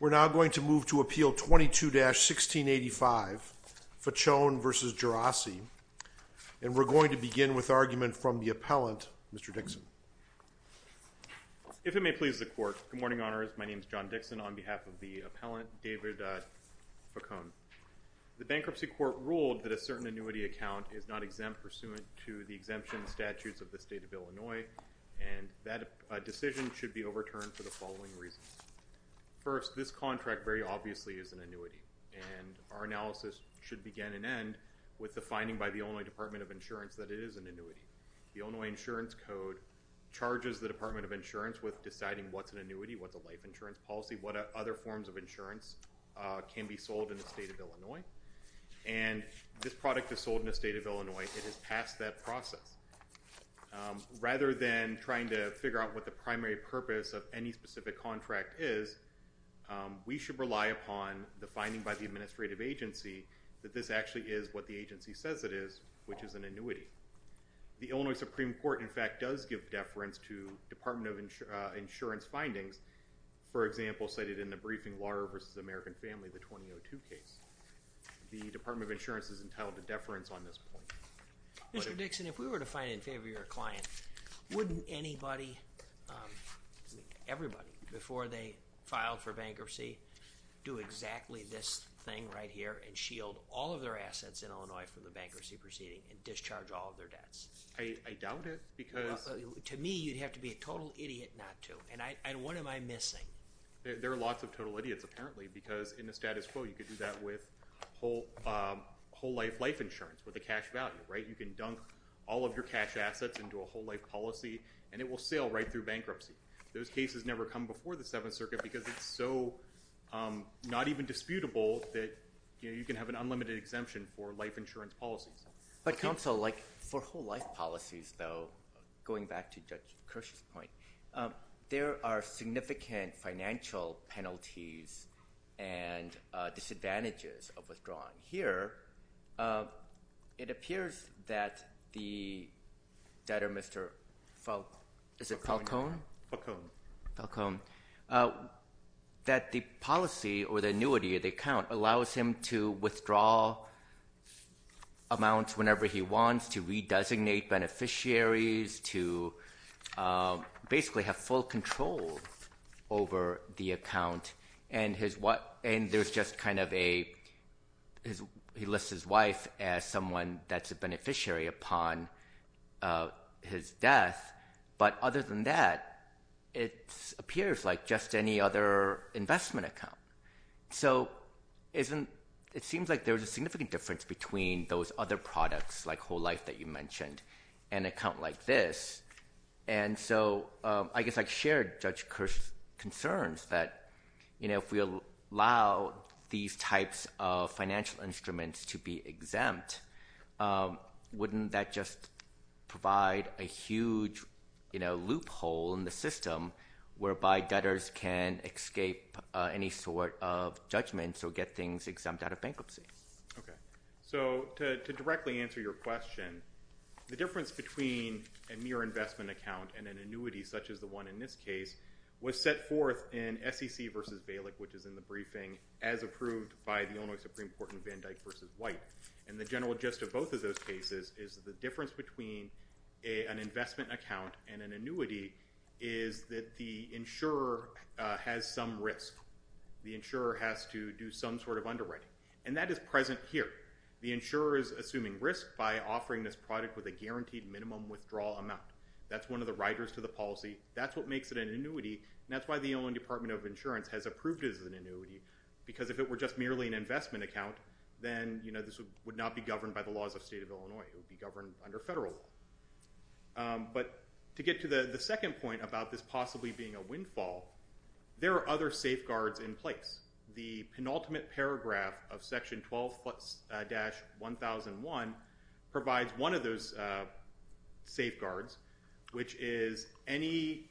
We're now going to move to Appeal 22-1685, Faccone v. Geraci. And we're going to begin with argument from the appellant, Mr. Dixon. If it may please the Court, good morning, Honors. My name is John Dixon. On behalf of the appellant, David Faccone, the Bankruptcy Court ruled that a certain annuity account is not exempt pursuant to the exemption statutes of the State of Illinois, and that decision should be overturned for the following reasons. First, this contract very obviously is an annuity, and our analysis should begin and end with the finding by the Illinois Department of Insurance that it is an annuity. The Illinois Insurance Code charges the Department of Insurance with deciding what's an annuity, what's a life insurance policy, what other forms of insurance can be sold in the State of Illinois. And this product is sold in the State of Illinois. It has passed that process. Rather than trying to figure out what the primary purpose of any specific contract is, we should rely upon the finding by the administrative agency that this actually is what the agency says it is, which is an annuity. The Illinois Supreme Court, in fact, does give deference to Department of Insurance findings, for example, cited in the briefing, Lawyer v. American Family, the 2002 case. The Department of Insurance is entitled to deference on this point. Mr. Dixon, if we were to find it in favor of your client, wouldn't anybody, everybody, before they filed for bankruptcy, do exactly this thing right here and shield all of their assets in Illinois from the bankruptcy proceeding and discharge all of their debts? I doubt it, because... To me, you'd have to be a total idiot not to. And what am I missing? There are lots of total idiots, apparently, because in the status quo, you could do that with whole-life life insurance with a cash value. You can dunk all of your cash assets into a whole-life policy, and it will sail right through bankruptcy. Those cases never come before the Seventh Circuit because it's so not even disputable that you can have an unlimited exemption for life insurance policies. But, counsel, for whole-life policies, though, going back to Judge Kirsch's point, there are significant financial penalties and disadvantages of withdrawing. Here, it appears that the debtor, Mr. Falcone... Is it Falcone? Falcone. Falcone. That the policy or the annuity of the account allows him to withdraw amounts whenever he wants, to redesignate beneficiaries, to basically have full control over the account. And there's just kind of a... He lists his wife as someone that's a beneficiary upon his death. But other than that, it appears like just any other investment account. So it seems like there's a significant difference between those other products like whole-life that you mentioned and an account like this. And so I guess I'd share Judge Kirsch's concerns that if we allow these types of financial instruments to be exempt, wouldn't that just provide a huge loophole in the system whereby debtors can escape any sort of judgment or get things exempt out of bankruptcy? Okay. So to directly answer your question, the difference between a mere investment account and an annuity such as the one in this case was set forth in SEC v. Balick, which is in the briefing, as approved by the Illinois Supreme Court in Van Dyck v. White. And the general gist of both of those cases is the difference between an investment account and an annuity is that the insurer has some risk. The insurer has to do some sort of underwriting. And that is present here. The insurer is assuming risk by offering this product with a guaranteed minimum withdrawal amount. That's one of the riders to the policy. That's what makes it an annuity, and that's why the Illinois Department of Insurance has approved it as an annuity, because if it were just merely an investment account, then this would not be governed by the laws of the state of Illinois. It would be governed under federal law. But to get to the second point about this possibly being a windfall, there are other safeguards in place. The penultimate paragraph of Section 12-1001 provides one of those safeguards, which is any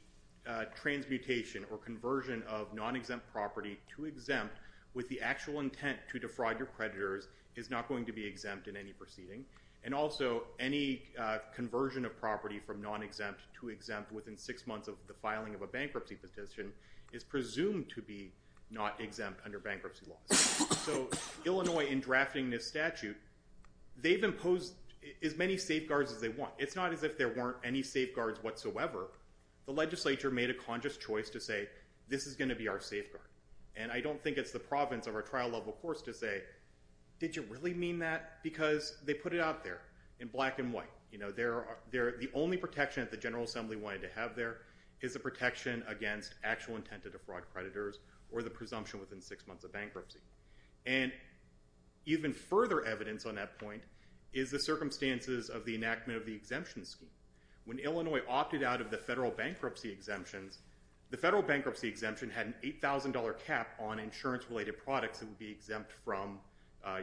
transmutation or conversion of non-exempt property to exempt with the actual intent to defraud your creditors is not going to be exempt in any proceeding. And also any conversion of property from non-exempt to exempt within six months of the filing of a bankruptcy petition is presumed to be not exempt under bankruptcy laws. So Illinois, in drafting this statute, they've imposed as many safeguards as they want. It's not as if there weren't any safeguards whatsoever. The legislature made a conscious choice to say, this is going to be our safeguard. And I don't think it's the province of our trial-level course to say, did you really mean that? Because they put it out there in black and white. The only protection that the General Assembly wanted to have there is a protection against actual intent to defraud creditors or the presumption within six months of bankruptcy. And even further evidence on that point is the circumstances of the enactment of the exemption scheme. When Illinois opted out of the federal bankruptcy exemptions, the federal bankruptcy exemption had an $8,000 cap on insurance-related products that would be exempt from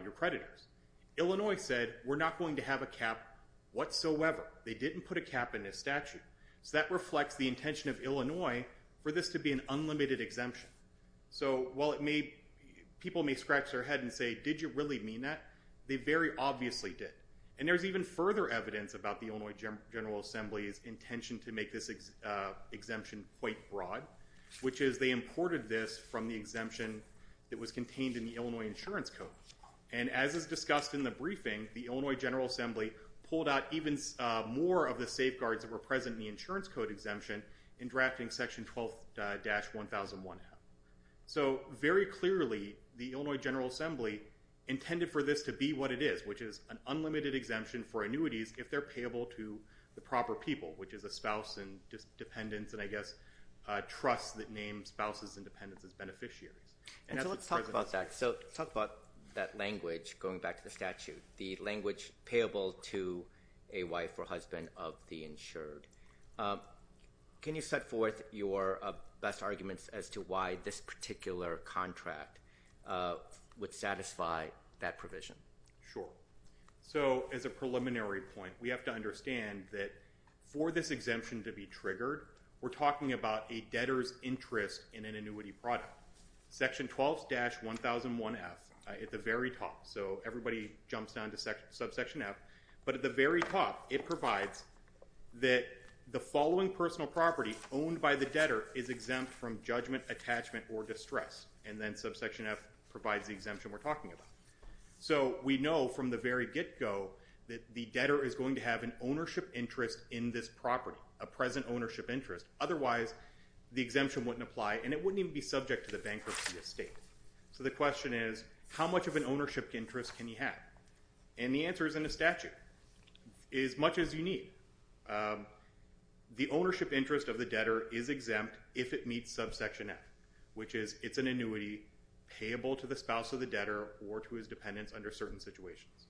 your creditors. Illinois said, we're not going to have a cap whatsoever. They didn't put a cap in this statute. So that reflects the intention of Illinois for this to be an unlimited exemption. So while people may scratch their head and say, did you really mean that, they very obviously did. And there's even further evidence about the Illinois General Assembly's intention to make this exemption quite broad, which is they imported this from the exemption that was contained in the Illinois Insurance Code. And as is discussed in the briefing, the Illinois General Assembly pulled out even more of the safeguards that were present in the insurance code exemption in drafting section 12-1001. So very clearly, the Illinois General Assembly intended for this to be what it is, which is an unlimited exemption for annuities if they're payable to the proper people, which is a spouse and dependents and, I guess, trusts that name spouses and dependents as beneficiaries. And so let's talk about that. So talk about that language, going back to the statute, the language payable to a wife or husband of the insured. Can you set forth your best arguments as to why this particular contract would satisfy that provision? Sure. So as a preliminary point, we have to understand that for this exemption to be triggered, we're talking about a debtor's interest in an annuity product. Section 12-1001F at the very top. So everybody jumps down to subsection F. But at the very top, it provides that the following personal property owned by the debtor is exempt from judgment, attachment, or distress. And then subsection F provides the exemption we're talking about. So we know from the very get-go that the debtor is going to have an ownership interest in this property, a present ownership interest. Otherwise, the exemption wouldn't apply, and it wouldn't even be subject to the bankruptcy estate. So the question is, how much of an ownership interest can he have? And the answer is in the statute. As much as you need. The ownership interest of the debtor is exempt if it meets subsection F, which is it's an annuity payable to the spouse of the debtor or to his dependents under certain situations.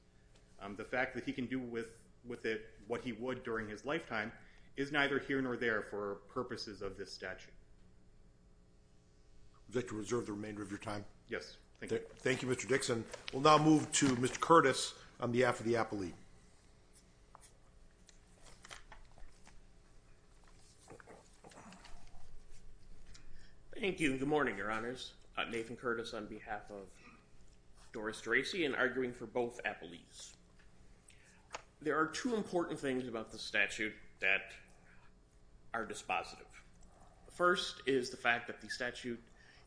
The fact that he can do with it what he would during his lifetime is neither here nor there for purposes of this statute. Would you like to reserve the remainder of your time? Yes, thank you. Thank you, Mr. Dixon. We'll now move to Mr. Curtis on behalf of the appellee. Thank you. Good morning, Your Honors. I'm Nathan Curtis on behalf of Doris Dracey and arguing for both appellees. There are two important things about the statute that are dispositive. The first is the fact that the statute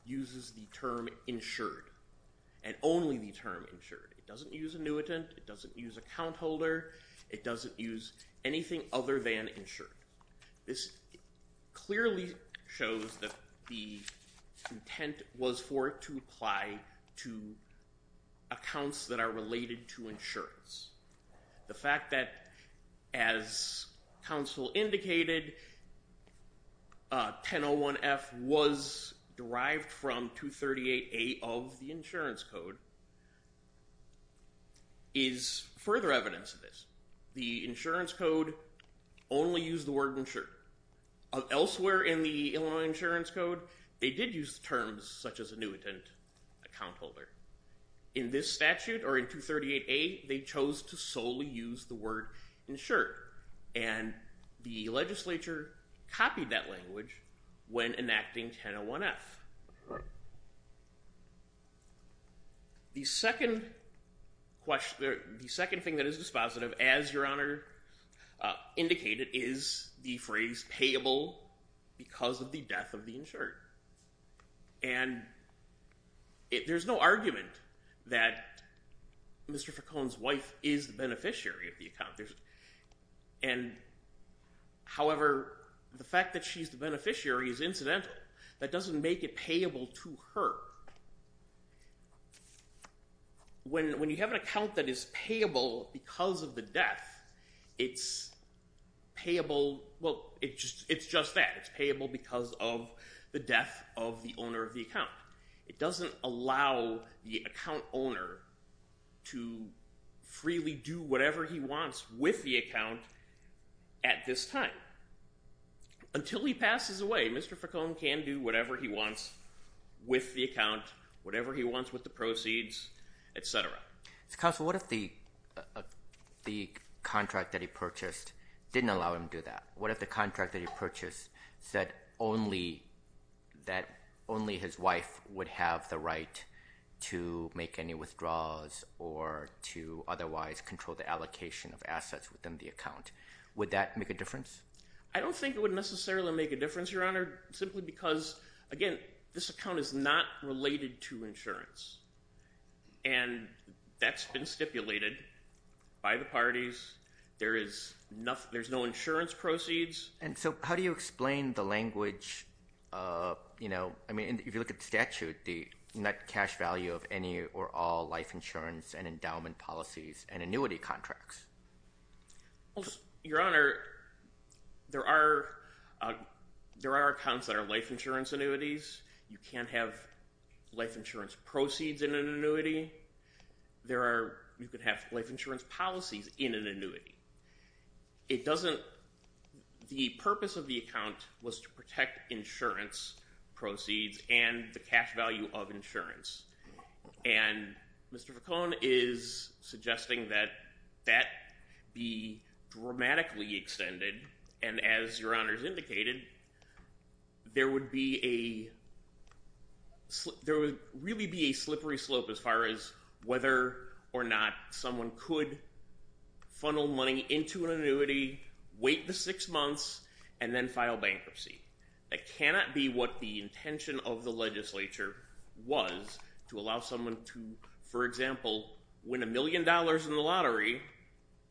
uses the term insured and only the term insured. It doesn't use annuitant. It doesn't use account holder. It doesn't use anything other than insured. This clearly shows that the intent was for it to apply to accounts that are related to insurance. The fact that, as counsel indicated, 1001F was derived from 238A of the insurance code is further evidence of this. The insurance code only used the word insured. Elsewhere in the Illinois insurance code, they did use terms such as annuitant, account holder. In this statute or in 238A, they chose to solely use the word insured, and the legislature copied that language when enacting 101F. The second thing that is dispositive, as Your Honor indicated, is the phrase payable because of the death of the insured. And there's no argument that Mr. Ficone's wife is the beneficiary of the account. However, the fact that she's the beneficiary is incidental. That doesn't make it payable to her. When you have an account that is payable because of the death, it's payable, well, it's just that. It's payable because of the death of the owner of the account. It doesn't allow the account owner to freely do whatever he wants with the account at this time. Until he passes away, Mr. Ficone can do whatever he wants with the account, whatever he wants with the proceeds, et cetera. Counsel, what if the contract that he purchased didn't allow him to do that? What if the contract that he purchased said only his wife would have the right to make any withdrawals or to otherwise control the allocation of assets within the account? Would that make a difference? I don't think it would necessarily make a difference, Your Honor, simply because, again, this account is not related to insurance, and that's been stipulated by the parties. There's no insurance proceeds. And so how do you explain the language? I mean, if you look at the statute, the net cash value of any or all life insurance and endowment policies and annuity contracts? Your Honor, there are accounts that are life insurance annuities. You can't have life insurance proceeds in an annuity. You could have life insurance policies in an annuity. The purpose of the account was to protect insurance proceeds and the cash value of insurance. And Mr. Ficone is suggesting that that be dramatically extended, and as Your Honor has indicated, there would really be a slippery slope as far as whether or not someone could funnel money into an annuity, wait the six months, and then file bankruptcy. That cannot be what the intention of the legislature was to allow someone to, for example, win a million dollars in the lottery,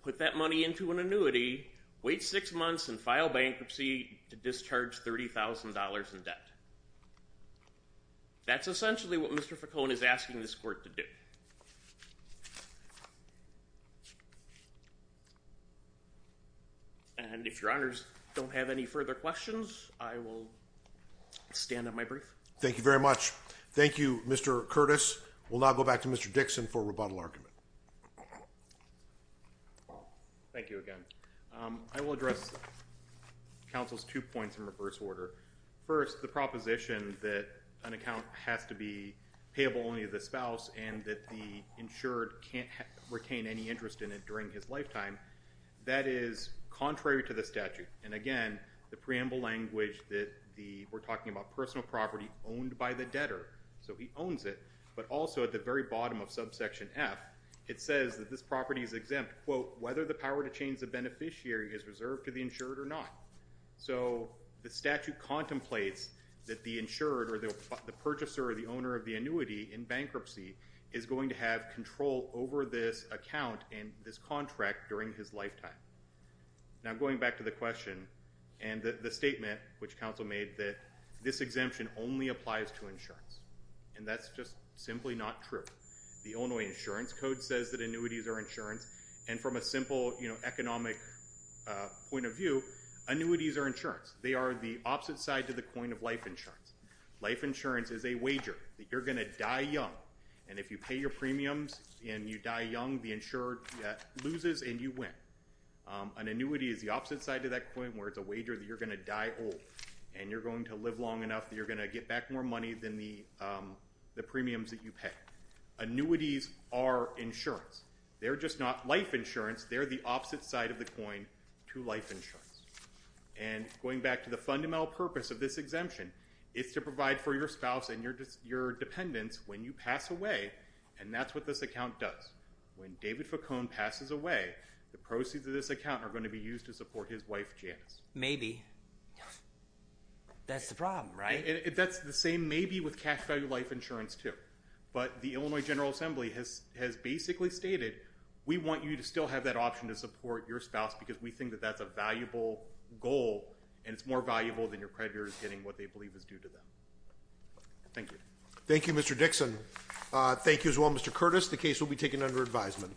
put that money into an annuity, wait six months, and file bankruptcy to discharge $30,000 in debt. That's essentially what Mr. Ficone is asking this court to do. And if Your Honors don't have any further questions, I will stand on my brief. Thank you very much. Thank you, Mr. Curtis. We'll now go back to Mr. Dixon for rebuttal argument. Thank you again. I will address counsel's two points in reverse order. First, the proposition that an account has to be payable only to the spouse and that the insured can't retain any interest in it during his lifetime, that is contrary to the statute. And again, the preamble language that we're talking about personal property owned by the debtor, so he owns it, but also at the very bottom of subsection F, it says that this property is exempt, quote, whether the power to change the beneficiary is reserved to the insured or not. So the statute contemplates that the insured or the purchaser or the owner of the annuity in bankruptcy is going to have control over this account and this contract during his lifetime. Now, going back to the question and the statement which counsel made that this exemption only applies to insurance, and that's just simply not true. The Illinois Insurance Code says that annuities are insurance, and from a simple economic point of view, annuities are insurance. They are the opposite side to the coin of life insurance. Life insurance is a wager that you're going to die young, and if you pay your premiums and you die young, the insured loses and you win. An annuity is the opposite side to that coin where it's a wager that you're going to die old and you're going to live long enough that you're going to get back more money than the premiums that you pay. Annuities are insurance. They're just not life insurance. They're the opposite side of the coin to life insurance. And going back to the fundamental purpose of this exemption, it's to provide for your spouse and your dependents when you pass away, and that's what this account does. When David Facone passes away, the proceeds of this account are going to be used to support his wife, Janice. Maybe. That's the problem, right? That's the same maybe with cash value life insurance too. But the Illinois General Assembly has basically stated, we want you to still have that option to support your spouse because we think that that's a valuable goal, and it's more valuable than your creditors getting what they believe is due to them. Thank you. Thank you, Mr. Dixon. Thank you as well, Mr. Curtis. The case will be taken under advisement.